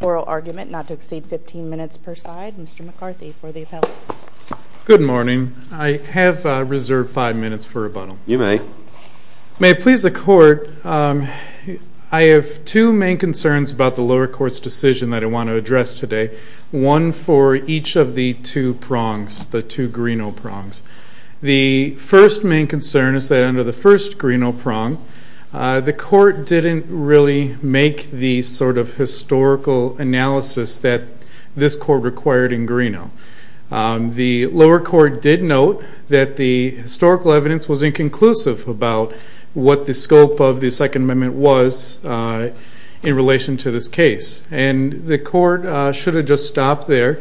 Oral argument not to exceed 15 minutes per side. Mr. McCarthy for the appellate. Good morning. I have reserved 5 minutes for rebuttal. You may. May it please the court, I have two main concerns about the lower court's decision that I want to address today. One for each of the two prongs. The two prongs of the lower court's decision. The first main concern is that under the first Greeno prong, the court didn't really make the sort of historical analysis that this court required in Greeno. The lower court did note that the historical evidence was inconclusive about what the scope of the Second Amendment was in relation to this case. And the court should have just stopped there.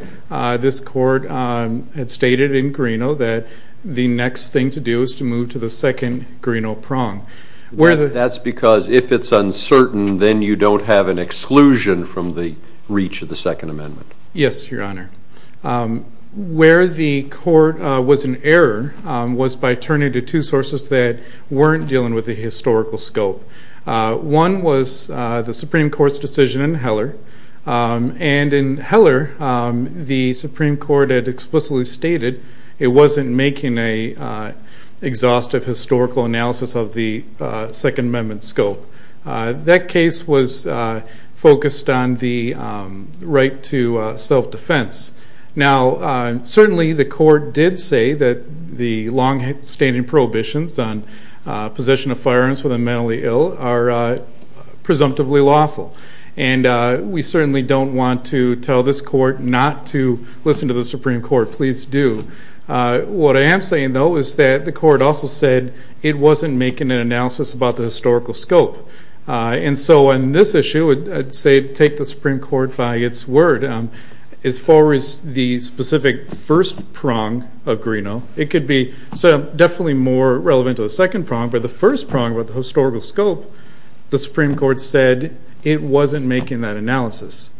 This court had stated in Greeno that the next thing to do is to move to the second Greeno prong. That's because if it's uncertain, then you don't have an exclusion from the reach of the Second Amendment. Yes, your honor. Where the court was in error was by turning to two sources that weren't dealing with the historical scope. One was the Supreme Court's decision in Heller. And in Heller, the Supreme Court had explicitly stated it wasn't making an exhaustive historical analysis of the Second Amendment scope. That case was focused on the right to self-defense. Now, certainly the court did say that the long-standing prohibitions on possession of firearms for the mentally ill are presumptively lawful. And we certainly don't want to tell this court not to listen to the Supreme Court. Please do. What I am saying, though, is that the court also said it wasn't making an analysis about the historical scope. And so on this issue, I'd say take the Supreme Court by its word. As far as the specific first prong of Greeno, it could be definitely more relevant to the second prong, but the first prong with the historical scope, the Supreme Court said it wasn't making that analysis.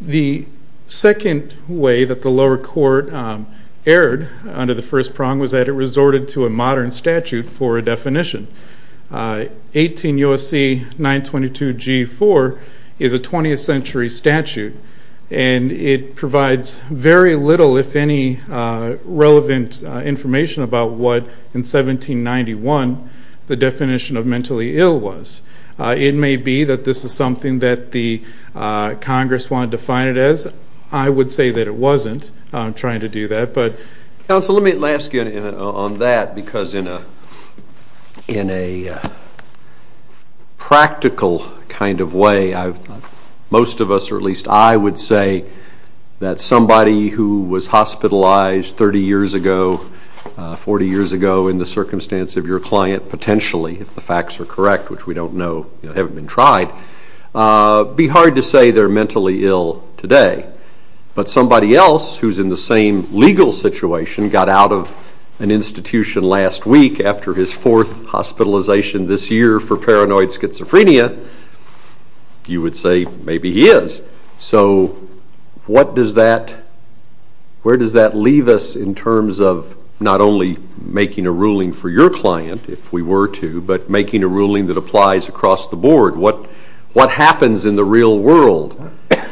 The second way that the lower court erred under the first prong was that it resorted to a modern statute for a definition. 18 U.S.C. 922-G4 is a 20th century statute, and it provides very little, if any, relevant information about what in 1791 the definition of mentally ill was. It may be that this is something that the Congress wanted to define it as. I would say that it wasn't. I'm trying to do that. Counsel, let me ask you on that, because in a practical kind of way, most of us, or at least I would say, that somebody who was hospitalized 30 years ago, 40 years ago, in the circumstance of your client, potentially, if the facts are correct, which we don't know, haven't been tried, be hard to say they're mentally ill today. But somebody else who's in the same legal situation got out of an institution last week after his fourth hospitalization this year for paranoid schizophrenia. You would say maybe he is. So where does that leave us in terms of not only making a ruling for your client, if we were to, but making a ruling that applies across the board? What happens in the real world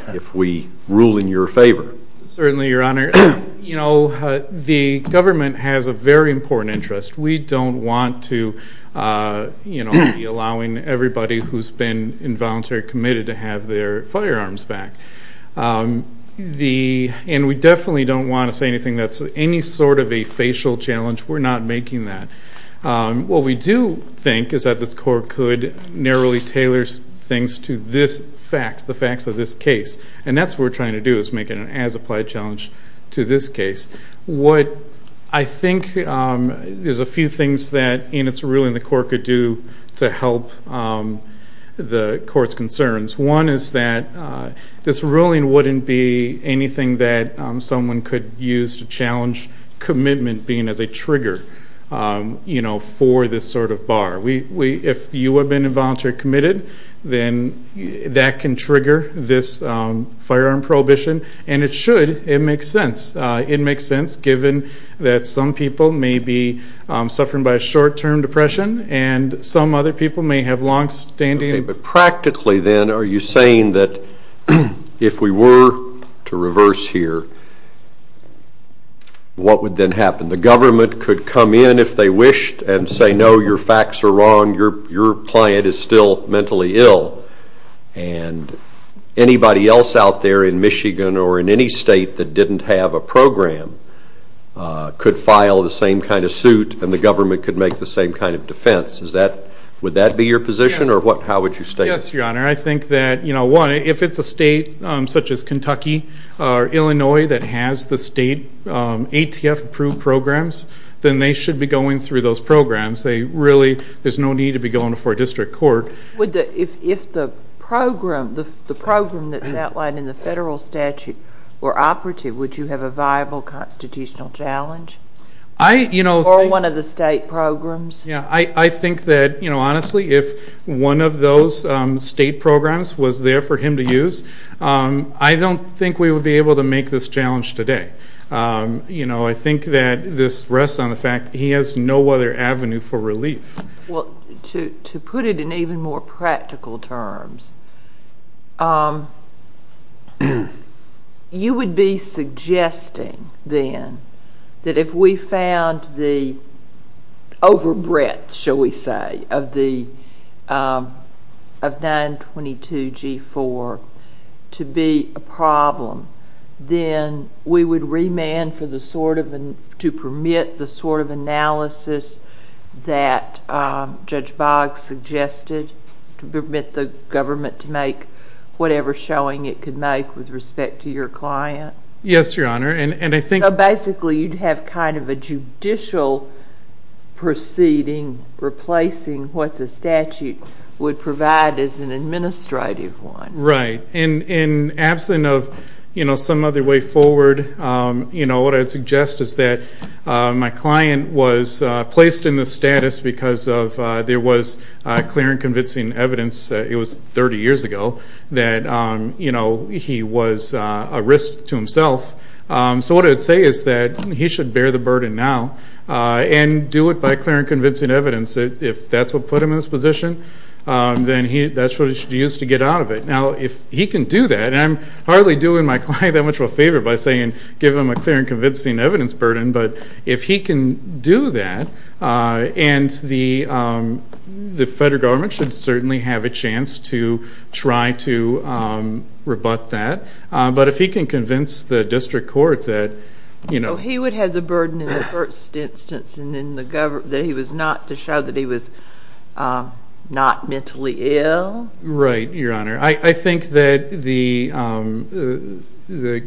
if we rule in your favor? Certainly, Your Honor. The government has a very important interest. We don't want to be allowing everybody who's been involuntarily committed to have their firearms back. And we definitely don't want to say anything that's any sort of a facial challenge. We're not making that. What we do think is that this court could narrowly tailor things to this fact, the facts of this case. And that's what we're trying to do, is make it an as-applied challenge to this case. What I think there's a few things that in its ruling the court could do to help the court's concerns. One is that this ruling wouldn't be anything that someone could use to challenge commitment being as a trigger for this sort of bar. If you have been involuntarily committed, then that can trigger this firearm prohibition. And it should. It makes sense. It makes sense, given that some people may be suffering by a short-term depression, and some other people may have longstanding. But practically, then, are you saying that if we were to reverse here, what would then happen? The government could come in if they wished and say, no, your facts are wrong. Your client is still mentally ill. And anybody else out there in Michigan or in any state that didn't have a program could file the same kind of suit, and the government could make the same kind of defense. Would that be your position, or how would you state it? Yes, Your Honor. I think that, one, if it's a state such as Kentucky or Illinois that has the state ATF-approved programs, then they should be going through those programs. There's no need to be going before a district court. If the program that's outlined in the federal statute were operative, would you have a viable constitutional challenge? Or one of the state programs? Yeah, I think that, honestly, if one of those state programs was there for him to use, I don't think we would be able to make this challenge today. I think that this rests on the fact that he has no other avenue for relief. Well, to put it in even more practical terms, you would be suggesting, then, that if we found the overbreadth, shall we say, of 922G4 to be a problem, then we would remand to permit the sort of analysis that Judge Boggs suggested, to permit the government to make whatever showing it could make with respect to your client? Yes, Your Honor. So, basically, you'd have kind of a judicial proceeding replacing what the statute would provide as an administrative one. Right. In absence of some other way forward, what I would suggest is that my client was placed in this status because there was clear and convincing evidence, it was 30 years ago, that he was a risk to himself. So what I would say is that he should bear the burden now and do it by clear and convincing evidence. If that's what put him in this position, then that's what he should use to get out of it. Now, if he can do that, and I'm hardly doing my client that much of a favor by saying give him a clear and convincing evidence burden, but if he can do that, then the federal government should certainly have a chance to try to rebut that. But if he can convince the district court that, you know. So he would have the burden in the first instance that he was not to show that he was not mentally ill? Right, Your Honor. I think that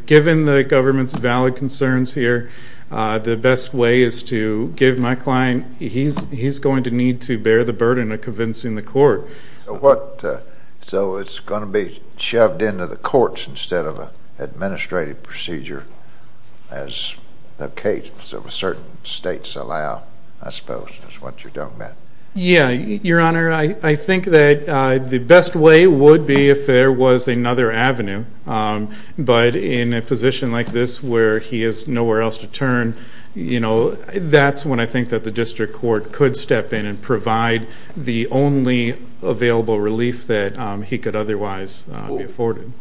given the government's valid concerns here, the best way is to give my client, he's going to need to bear the burden of convincing the court. So it's going to be shoved into the courts instead of an administrative procedure, as the case of certain states allow, I suppose, is what you're talking about? Yeah, Your Honor, I think that the best way would be if there was another avenue, but in a position like this where he has nowhere else to turn, you know, that's when I think that the district court could step in and provide the only available relief that he could otherwise be afforded.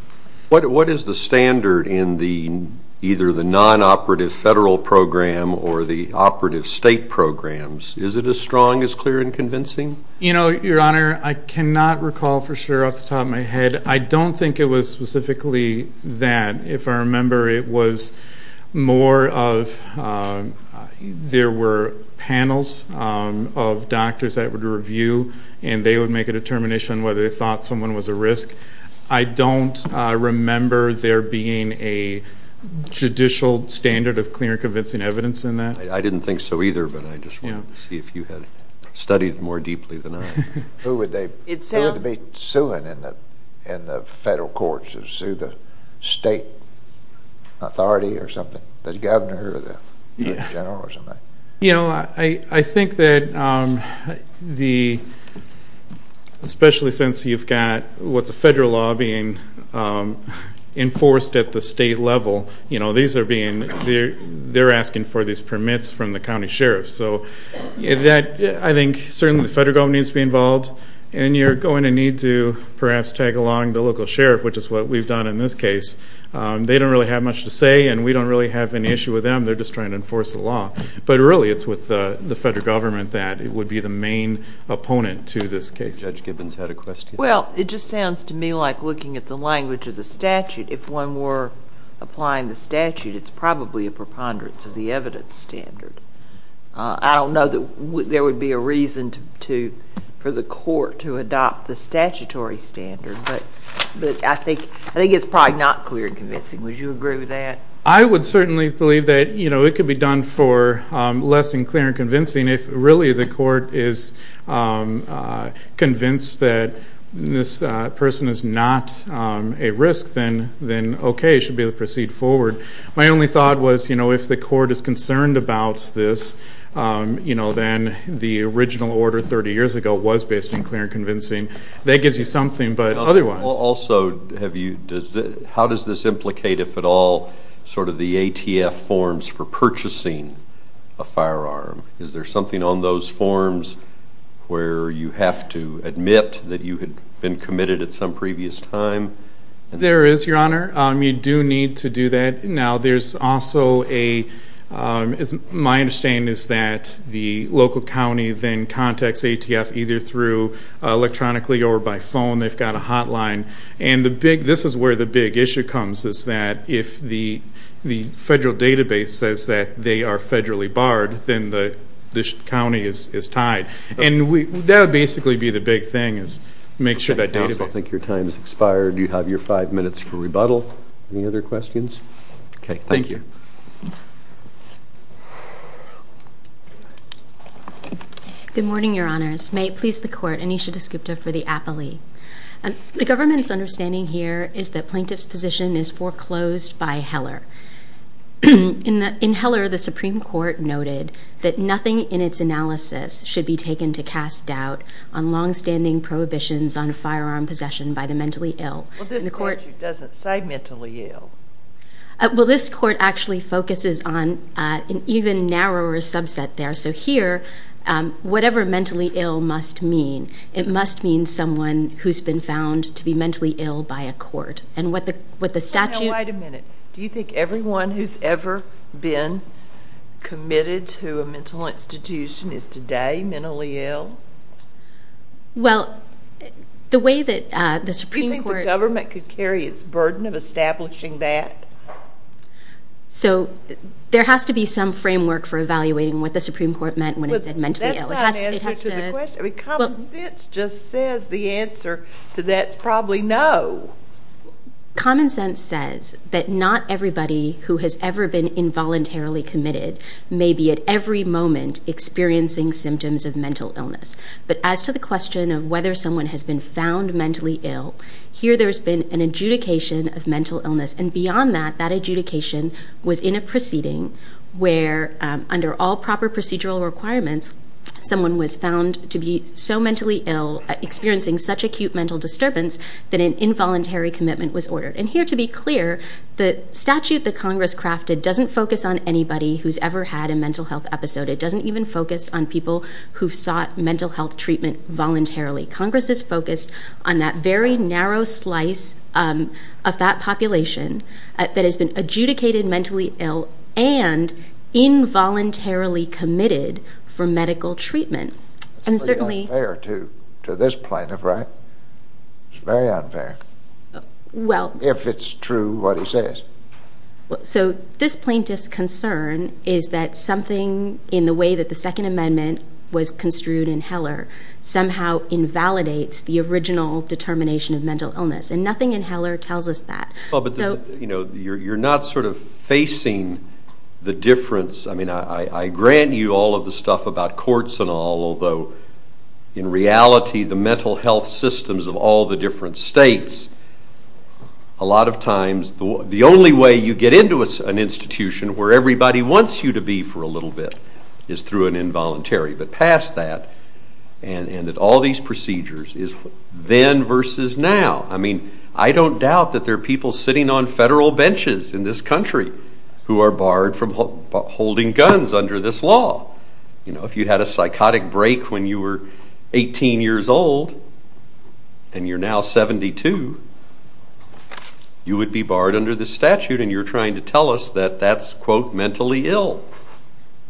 What is the standard in either the non-operative federal program or the operative state programs? Is it as strong, as clear, and convincing? You know, Your Honor, I cannot recall for sure off the top of my head. I don't think it was specifically that. If I remember, it was more of there were panels of doctors that would review, and they would make a determination whether they thought someone was at risk. I don't remember there being a judicial standard of clear and convincing evidence in that. I didn't think so either, but I just wanted to see if you had studied more deeply than I. Who would they be suing in the federal courts? Would they sue the state authority or something, the governor or the general or something? You know, I think that especially since you've got what's a federal law being enforced at the state level, you know, they're asking for these permits from the county sheriff. So I think certainly the federal government needs to be involved, and you're going to need to perhaps tag along the local sheriff, which is what we've done in this case. They don't really have much to say, and we don't really have an issue with them. They're just trying to enforce the law. But really it's with the federal government that would be the main opponent to this case. Judge Gibbons had a question. Well, it just sounds to me like looking at the language of the statute. If one were applying the statute, it's probably a preponderance of the evidence standard. I don't know that there would be a reason for the court to adopt the statutory standard, but I think it's probably not clear and convincing. Would you agree with that? I would certainly believe that, you know, it could be done for less than clear and convincing if really the court is convinced that this person is not a risk, then okay, it should be able to proceed forward. My only thought was, you know, if the court is concerned about this, you know, then the original order 30 years ago was based on clear and convincing. That gives you something, but otherwise. Also, how does this implicate, if at all, sort of the ATF forms for purchasing a firearm? Is there something on those forms where you have to admit that you had been committed at some previous time? There is, Your Honor. You do need to do that. Now, there's also a my understanding is that the local county then contacts ATF either through electronically or by phone. They've got a hotline. And this is where the big issue comes is that if the federal database says that they are federally barred, then the county is tied. And that would basically be the big thing is make sure that database. I also think your time has expired. You have your five minutes for rebuttal. Any other questions? Okay, thank you. Thank you. Good morning, Your Honors. May it please the Court, Anisha Desgupta for the appellee. The government's understanding here is that plaintiff's position is foreclosed by Heller. In Heller, the Supreme Court noted that nothing in its analysis should be taken to cast doubt on longstanding prohibitions on firearm possession by the mentally ill. Well, this statute doesn't say mentally ill. Well, this court actually focuses on an even narrower subset there. So here, whatever mentally ill must mean, it must mean someone who's been found to be mentally ill by a court. And what the statute – Does it mean everyone who's ever been committed to a mental institution is today mentally ill? Well, the way that the Supreme Court – Do you think the government could carry its burden of establishing that? So there has to be some framework for evaluating what the Supreme Court meant when it said mentally ill. It has to – That's not an answer to the question. Common sense just says the answer to that's probably no. Common sense says that not everybody who has ever been involuntarily committed may be at every moment experiencing symptoms of mental illness. But as to the question of whether someone has been found mentally ill, here there's been an adjudication of mental illness. And beyond that, that adjudication was in a proceeding where, under all proper procedural requirements, someone was found to be so mentally ill, experiencing such acute mental disturbance, that an involuntary commitment was ordered. And here, to be clear, the statute that Congress crafted doesn't focus on anybody who's ever had a mental health episode. It doesn't even focus on people who've sought mental health treatment voluntarily. Congress is focused on that very narrow slice of that population that has been adjudicated mentally ill and involuntarily committed for medical treatment. It's pretty unfair to this plaintiff, right? It's very unfair. If it's true, what he says. So this plaintiff's concern is that something in the way that the Second Amendment was construed in Heller somehow invalidates the original determination of mental illness. And nothing in Heller tells us that. But you're not sort of facing the difference. I mean, I grant you all of the stuff about courts and all, although in reality the mental health systems of all the different states, a lot of times the only way you get into an institution where everybody wants you to be for a little bit is through an involuntary. But past that, and at all these procedures, is then versus now. I mean, I don't doubt that there are people sitting on federal benches in this country who are barred from holding guns under this law. If you had a psychotic break when you were 18 years old and you're now 72, you would be barred under this statute, and you're trying to tell us that that's, quote, mentally ill.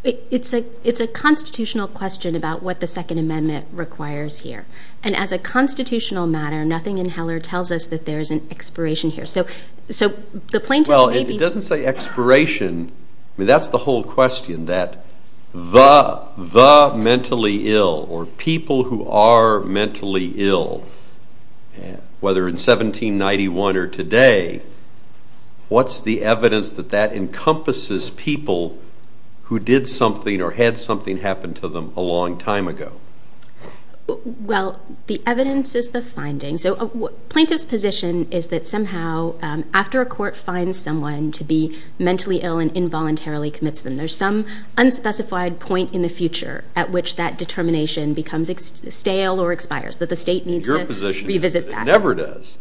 It's a constitutional question about what the Second Amendment requires here. And as a constitutional matter, nothing in Heller tells us that there is an expiration here. Well, it doesn't say expiration. I mean, that's the whole question, that the mentally ill or people who are mentally ill, whether in 1791 or today, what's the evidence that that encompasses people who did something or had something happen to them a long time ago? Well, the evidence is the finding. So a plaintiff's position is that somehow after a court finds someone to be mentally ill and involuntarily commits them, there's some unspecified point in the future at which that determination becomes stale or expires, that the state needs to revisit that. Your position is that it never does.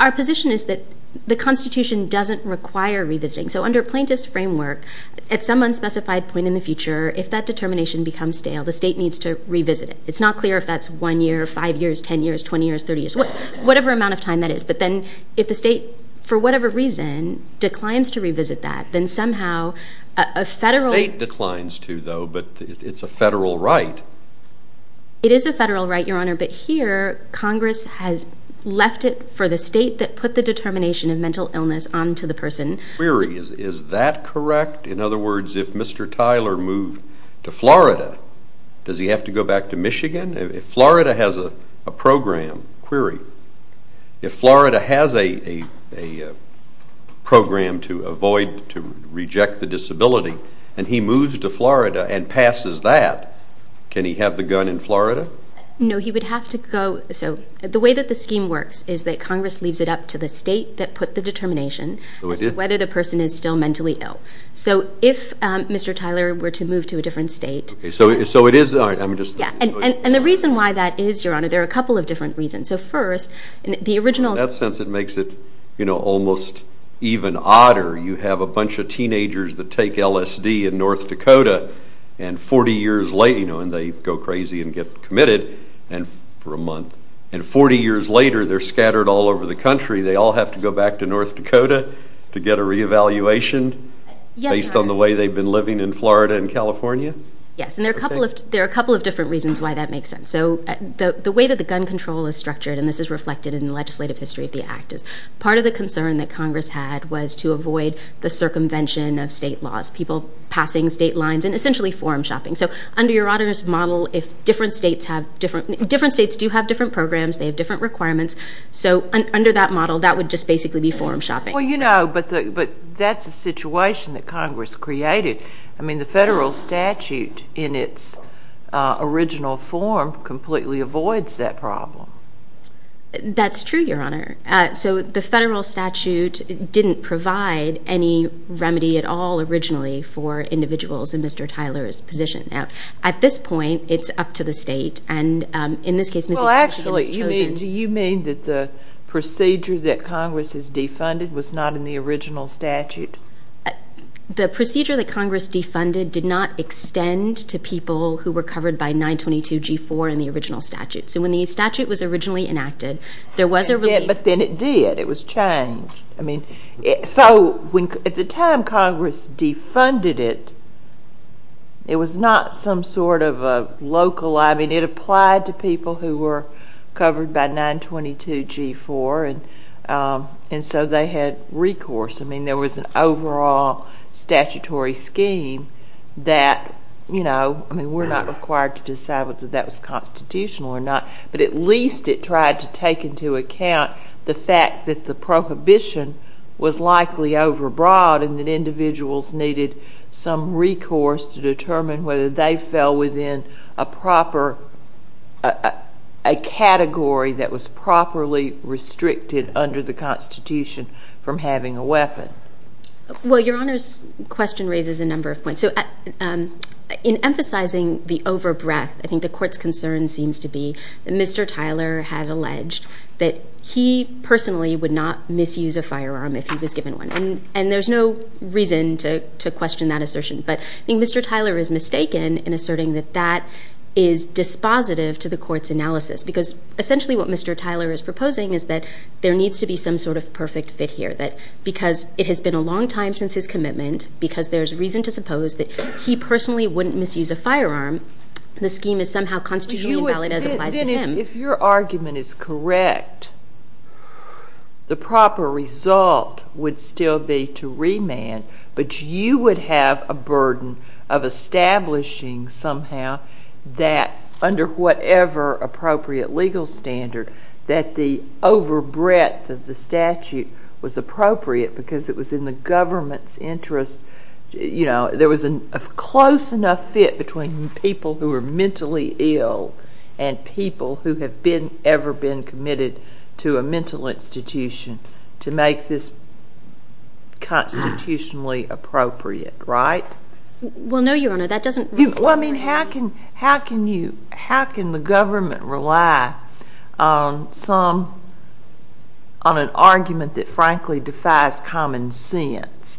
Our position is that the Constitution doesn't require revisiting. So under a plaintiff's framework, at some unspecified point in the future, if that determination becomes stale, the state needs to revisit it. It's not clear if that's 1 year, 5 years, 10 years, 20 years, 30 years, whatever amount of time that is. But then if the state, for whatever reason, declines to revisit that, then somehow a federal... The state declines to, though, but it's a federal right. It is a federal right, Your Honor, but here Congress has left it for the state that put the determination of mental illness onto the person. Is that correct? In other words, if Mr. Tyler moved to Florida, does he have to go back to Michigan? If Florida has a program, query, if Florida has a program to avoid, to reject the disability, and he moves to Florida and passes that, can he have the gun in Florida? No, he would have to go... So the way that the scheme works is that Congress leaves it up to the state that put the determination as to whether the person is still mentally ill. So if Mr. Tyler were to move to a different state... So it is... And the reason why that is, Your Honor, there are a couple of different reasons. So first, the original... In that sense, it makes it almost even odder. You have a bunch of teenagers that take LSD in North Dakota, and 40 years later, and they go crazy and get committed for a month. And 40 years later, they're scattered all over the country. They all have to go back to North Dakota to get a reevaluation? Yes, Your Honor. Based on the way they've been living in Florida and California? Yes, and there are a couple of different reasons why that makes sense. So the way that the gun control is structured, and this is reflected in the legislative history of the act, is part of the concern that Congress had was to avoid the circumvention of state laws, people passing state lines, and essentially forum shopping. So under your model, if different states have different... Different states do have different programs. They have different requirements. So under that model, that would just basically be forum shopping. Well, you know, but that's a situation that Congress created. I mean, the federal statute, in its original form, completely avoids that problem. That's true, Your Honor. So the federal statute didn't provide any remedy at all originally for individuals in Mr. Tyler's position. Now, at this point, it's up to the state, and in this case... Well, actually, do you mean that the procedure that Congress has defunded was not in the original statute? The procedure that Congress defunded did not extend to people who were covered by 922G4 in the original statute. So when the statute was originally enacted, there was a relief. But then it did. It was changed. I mean, so at the time Congress defunded it, it was not some sort of a local. I mean, it applied to people who were covered by 922G4, and so they had recourse. I mean, there was an overall statutory scheme that, you know, I mean, we're not required to decide whether that was constitutional or not, but at least it tried to take into account the fact that the prohibition was likely overbroad and that individuals needed some recourse to determine whether they fell within a proper category that was properly restricted under the Constitution from having a weapon. Well, Your Honor's question raises a number of points. So in emphasizing the overbreath, I think the Court's concern seems to be that Mr. Tyler has alleged that he personally would not misuse a firearm if he was given one, and there's no reason to question that assertion. But I think Mr. Tyler is mistaken in asserting that that is dispositive to the Court's analysis because essentially what Mr. Tyler is proposing is that there needs to be some sort of perfect fit here, that because it has been a long time since his commitment, because there's reason to suppose that he personally wouldn't misuse a firearm, the scheme is somehow constitutional and valid as applies to him. If your argument is correct, the proper result would still be to remand, but you would have a burden of establishing somehow that under whatever appropriate legal standard that the overbreadth of the statute was appropriate because it was in the government's interest. There was a close enough fit between people who were mentally ill and people who have ever been committed to a mental institution to make this constitutionally appropriate, right? Well, no, Your Honor, that doesn't... Well, I mean, how can the government rely on an argument that frankly defies common sense?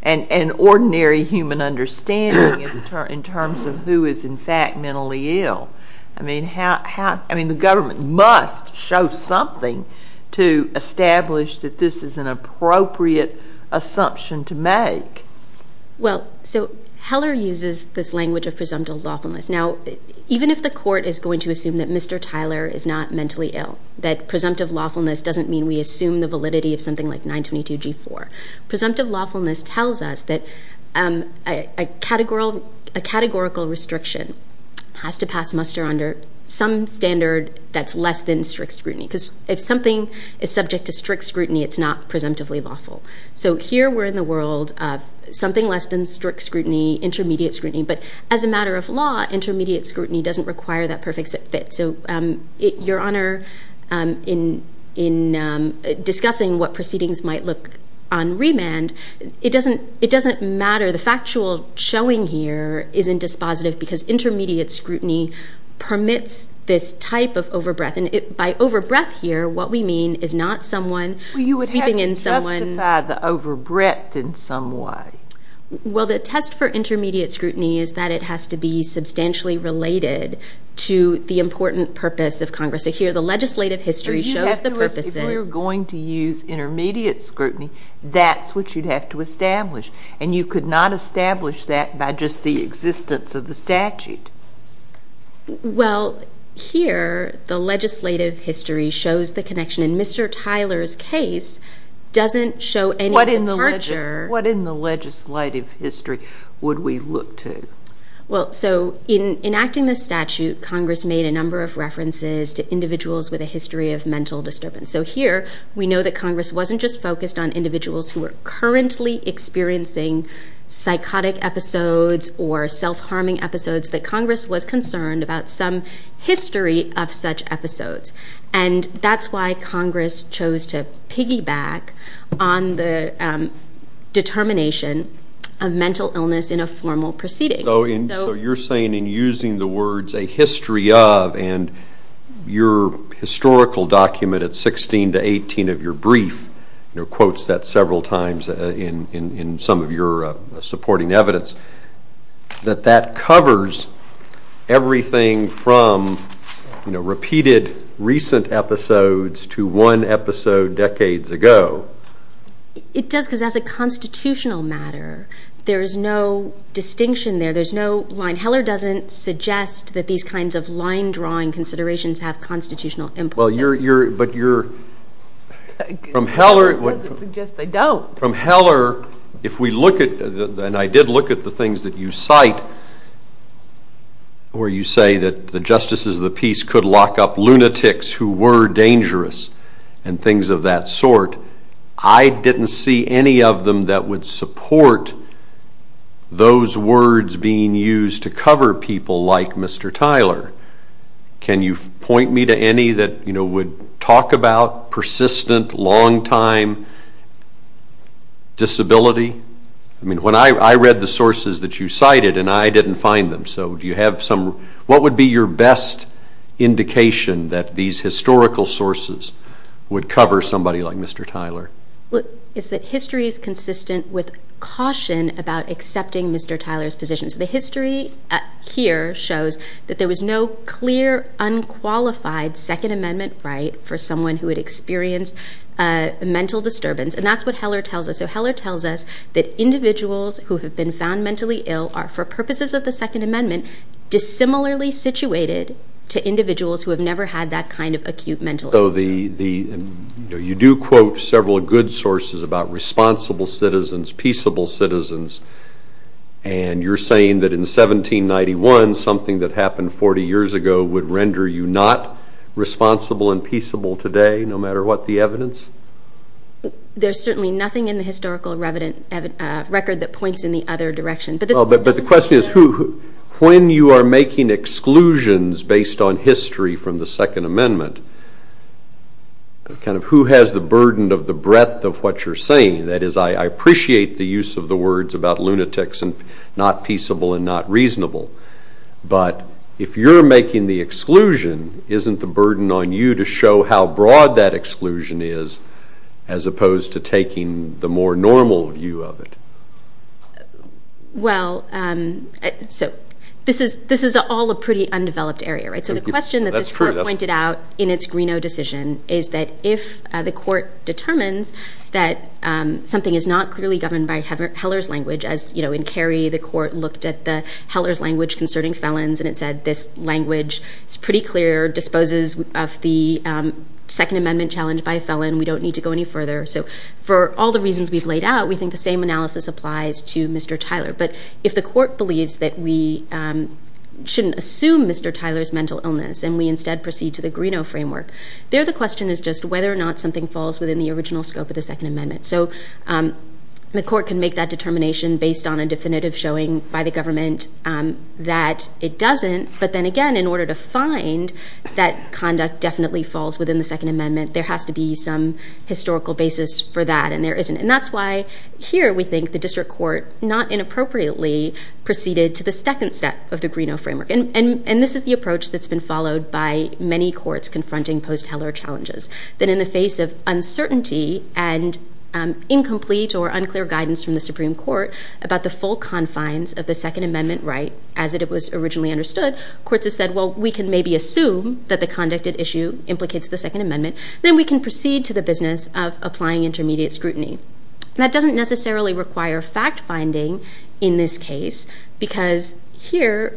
And ordinary human understanding in terms of who is in fact mentally ill? I mean, the government must show something to establish that this is an appropriate assumption to make. Well, so Heller uses this language of presumptive lawfulness. Now, even if the Court is going to assume that Mr. Tyler is not mentally ill, that presumptive lawfulness doesn't mean we assume the validity of something like 922G4. Presumptive lawfulness tells us that a categorical restriction has to pass muster under some standard that's less than strict scrutiny because if something is subject to strict scrutiny, it's not presumptively lawful. So here we're in the world of something less than strict scrutiny, intermediate scrutiny, but as a matter of law, intermediate scrutiny doesn't require that perfect fit. So, Your Honor, in discussing what proceedings might look on remand, it doesn't matter. The factual showing here isn't dispositive because intermediate scrutiny permits this type of overbreath. And by overbreath here, what we mean is not someone sweeping in someone... Well, you would have to justify the overbreath in some way. Well, the test for intermediate scrutiny is that it has to be substantially related to the important purpose of Congress. So here, the legislative history shows the purposes... But you have to ask, if we're going to use intermediate scrutiny, that's what you'd have to establish. And you could not establish that by just the existence of the statute. Well, here, the legislative history shows the connection. In Mr. Tyler's case, doesn't show any departure... What in the legislative history would we look to? Well, so in enacting the statute, Congress made a number of references to individuals with a history of mental disturbance. So here, we know that Congress wasn't just focused on individuals who were currently experiencing psychotic episodes or self-harming episodes, that Congress was concerned about some history of such episodes. And that's why Congress chose to piggyback on the determination of mental illness in a formal proceeding. So you're saying, in using the words, a history of, and your historical document at 16 to 18 of your brief quotes that several times in some of your supporting evidence, that that covers everything from, you know, repeated recent episodes to one episode decades ago. It does, because as a constitutional matter, there is no distinction there. There's no line. Heller doesn't suggest that these kinds of line-drawing considerations have constitutional importance. Well, but you're... Heller doesn't suggest they don't. From Heller, if we look at, and I did look at the things that you cite, where you say that the justices of the peace could lock up lunatics who were dangerous and things of that sort, I didn't see any of them that would support those words being used to cover people like Mr. Tyler. Can you point me to any that, you know, would talk about persistent, long-time disability? I mean, I read the sources that you cited, and I didn't find them. So do you have some... What would be your best indication that these historical sources would cover somebody like Mr. Tyler? It's that history is consistent with caution about accepting Mr. Tyler's position. The history here shows that there was no clear, unqualified Second Amendment right for someone who had experienced mental disturbance, and that's what Heller tells us. So Heller tells us that individuals who have been found mentally ill are, for purposes of the Second Amendment, dissimilarly situated to individuals who have never had that kind of acute mental illness. So you do quote several good sources about responsible citizens, peaceable citizens, and you're saying that in 1791, something that happened 40 years ago would render you not responsible and peaceable today, no matter what the evidence? There's certainly nothing in the historical record that points in the other direction. But the question is, when you are making exclusions based on history from the Second Amendment, kind of who has the burden of the breadth of what you're saying? That is, I appreciate the use of the words about lunatics and not peaceable and not reasonable, but if you're making the exclusion, isn't the burden on you to show how broad that exclusion is as opposed to taking the more normal view of it? Well, so this is all a pretty undeveloped area, right? So the question that this Court pointed out in its Greenough decision is that if the Court determines that something is not clearly governed by Heller's language, as in Carey, the Court looked at the Heller's language concerning felons, and it said this language is pretty clear, disposes of the Second Amendment challenge by felon, we don't need to go any further. So for all the reasons we've laid out, we think the same analysis applies to Mr. Tyler. But if the Court believes that we shouldn't assume Mr. Tyler's mental illness and we instead proceed to the Greenough framework, there the question is just whether or not something falls within the original scope of the Second Amendment. So the Court can make that determination based on a definitive showing by the government that it doesn't, but then again, in order to find that conduct definitely falls within the Second Amendment, there has to be some historical basis for that, and there isn't. And that's why here we think the District Court not inappropriately proceeded to the second step of the Greenough framework. And this is the approach that's been followed by many courts confronting post-Heller challenges, that in the face of uncertainty and incomplete or unclear guidance from the Supreme Court about the full confines of the Second Amendment right as it was originally understood, courts have said, well, we can maybe assume that the conducted issue implicates the Second Amendment, then we can proceed to the business of applying intermediate scrutiny. That doesn't necessarily require fact-finding in this case because here,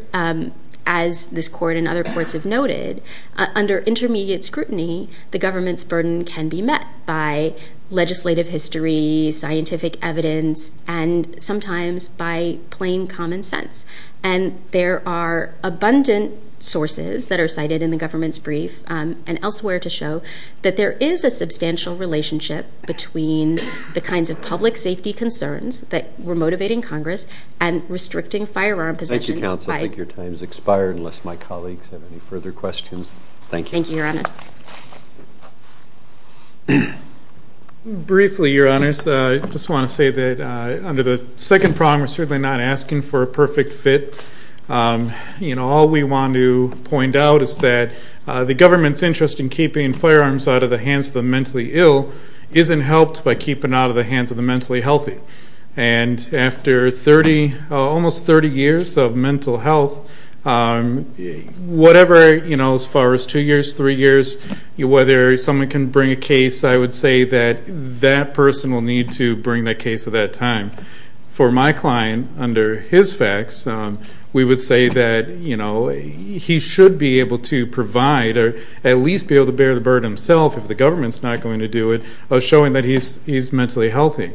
as this court and other courts have noted, under intermediate scrutiny, the government's burden can be met by legislative history, scientific evidence, and sometimes by plain common sense. And there are abundant sources that are cited in the government's brief and elsewhere to show that there is a substantial relationship between the kinds of public safety concerns that were motivating Congress and restricting firearm possession. Thank you, Counsel. I think your time has expired unless my colleagues have any further questions. Thank you. Thank you, Your Honors. Briefly, Your Honors, I just want to say that under the second prong, we're certainly not asking for a perfect fit. You know, all we want to point out is that the government's interest in keeping firearms out of the hands of the mentally ill isn't helped by keeping it out of the hands of the mentally healthy. And after 30, almost 30 years of mental health, whatever, you know, as far as two years, three years, whether someone can bring a case, I would say that that person will need to bring the case at that time. For my client, under his facts, we would say that, you know, he should be able to provide or at least be able to bear the burden himself if the government's not going to do it of showing that he's mentally healthy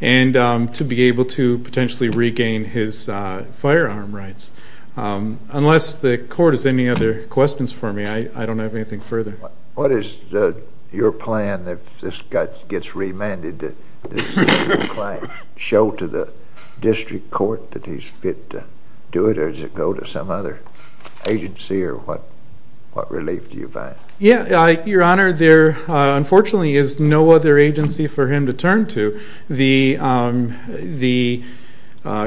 and to be able to potentially regain his firearm rights. Unless the Court has any other questions for me, I don't have anything further. What is your plan if this guy gets remanded, does your client show to the district court that he's fit to do it or does it go to some other agency or what relief do you find? Yeah, Your Honor, there unfortunately is no other agency for him to turn to. The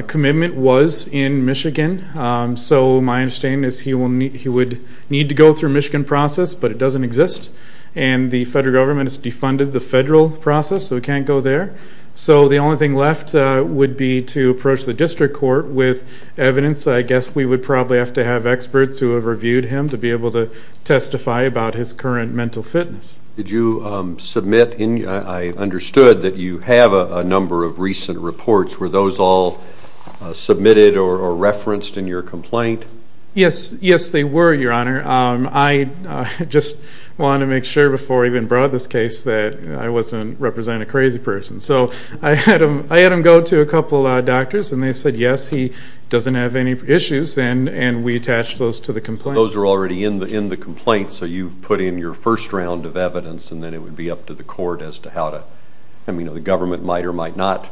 commitment was in Michigan, so my understanding is he would need to go through Michigan process, but it doesn't exist, and the federal government has defunded the federal process, so he can't go there. So the only thing left would be to approach the district court with evidence. I guess we would probably have to have experts who have reviewed him to be able to testify about his current mental fitness. Did you submit inóI understood that you have a number of recent reports. Were those all submitted or referenced in your complaint? Yes, yes, they were, Your Honor. I just wanted to make sure before I even brought this case that I wasn't representing a crazy person. So I had him go to a couple of doctors, and they said yes, he doesn't have any issues, and we attached those to the complaint. Those are already in the complaint, so you've put in your first round of evidence, and then it would be up to the court as to how toóI mean, the government might or might notó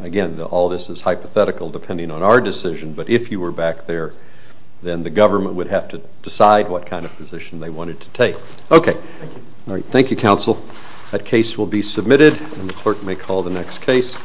again, all this is hypothetical depending on our decision, but if you were back there, then the government would have to decide what kind of position they wanted to take. Okay. Thank you, counsel. That case will be submitted, and the clerk may call the next case.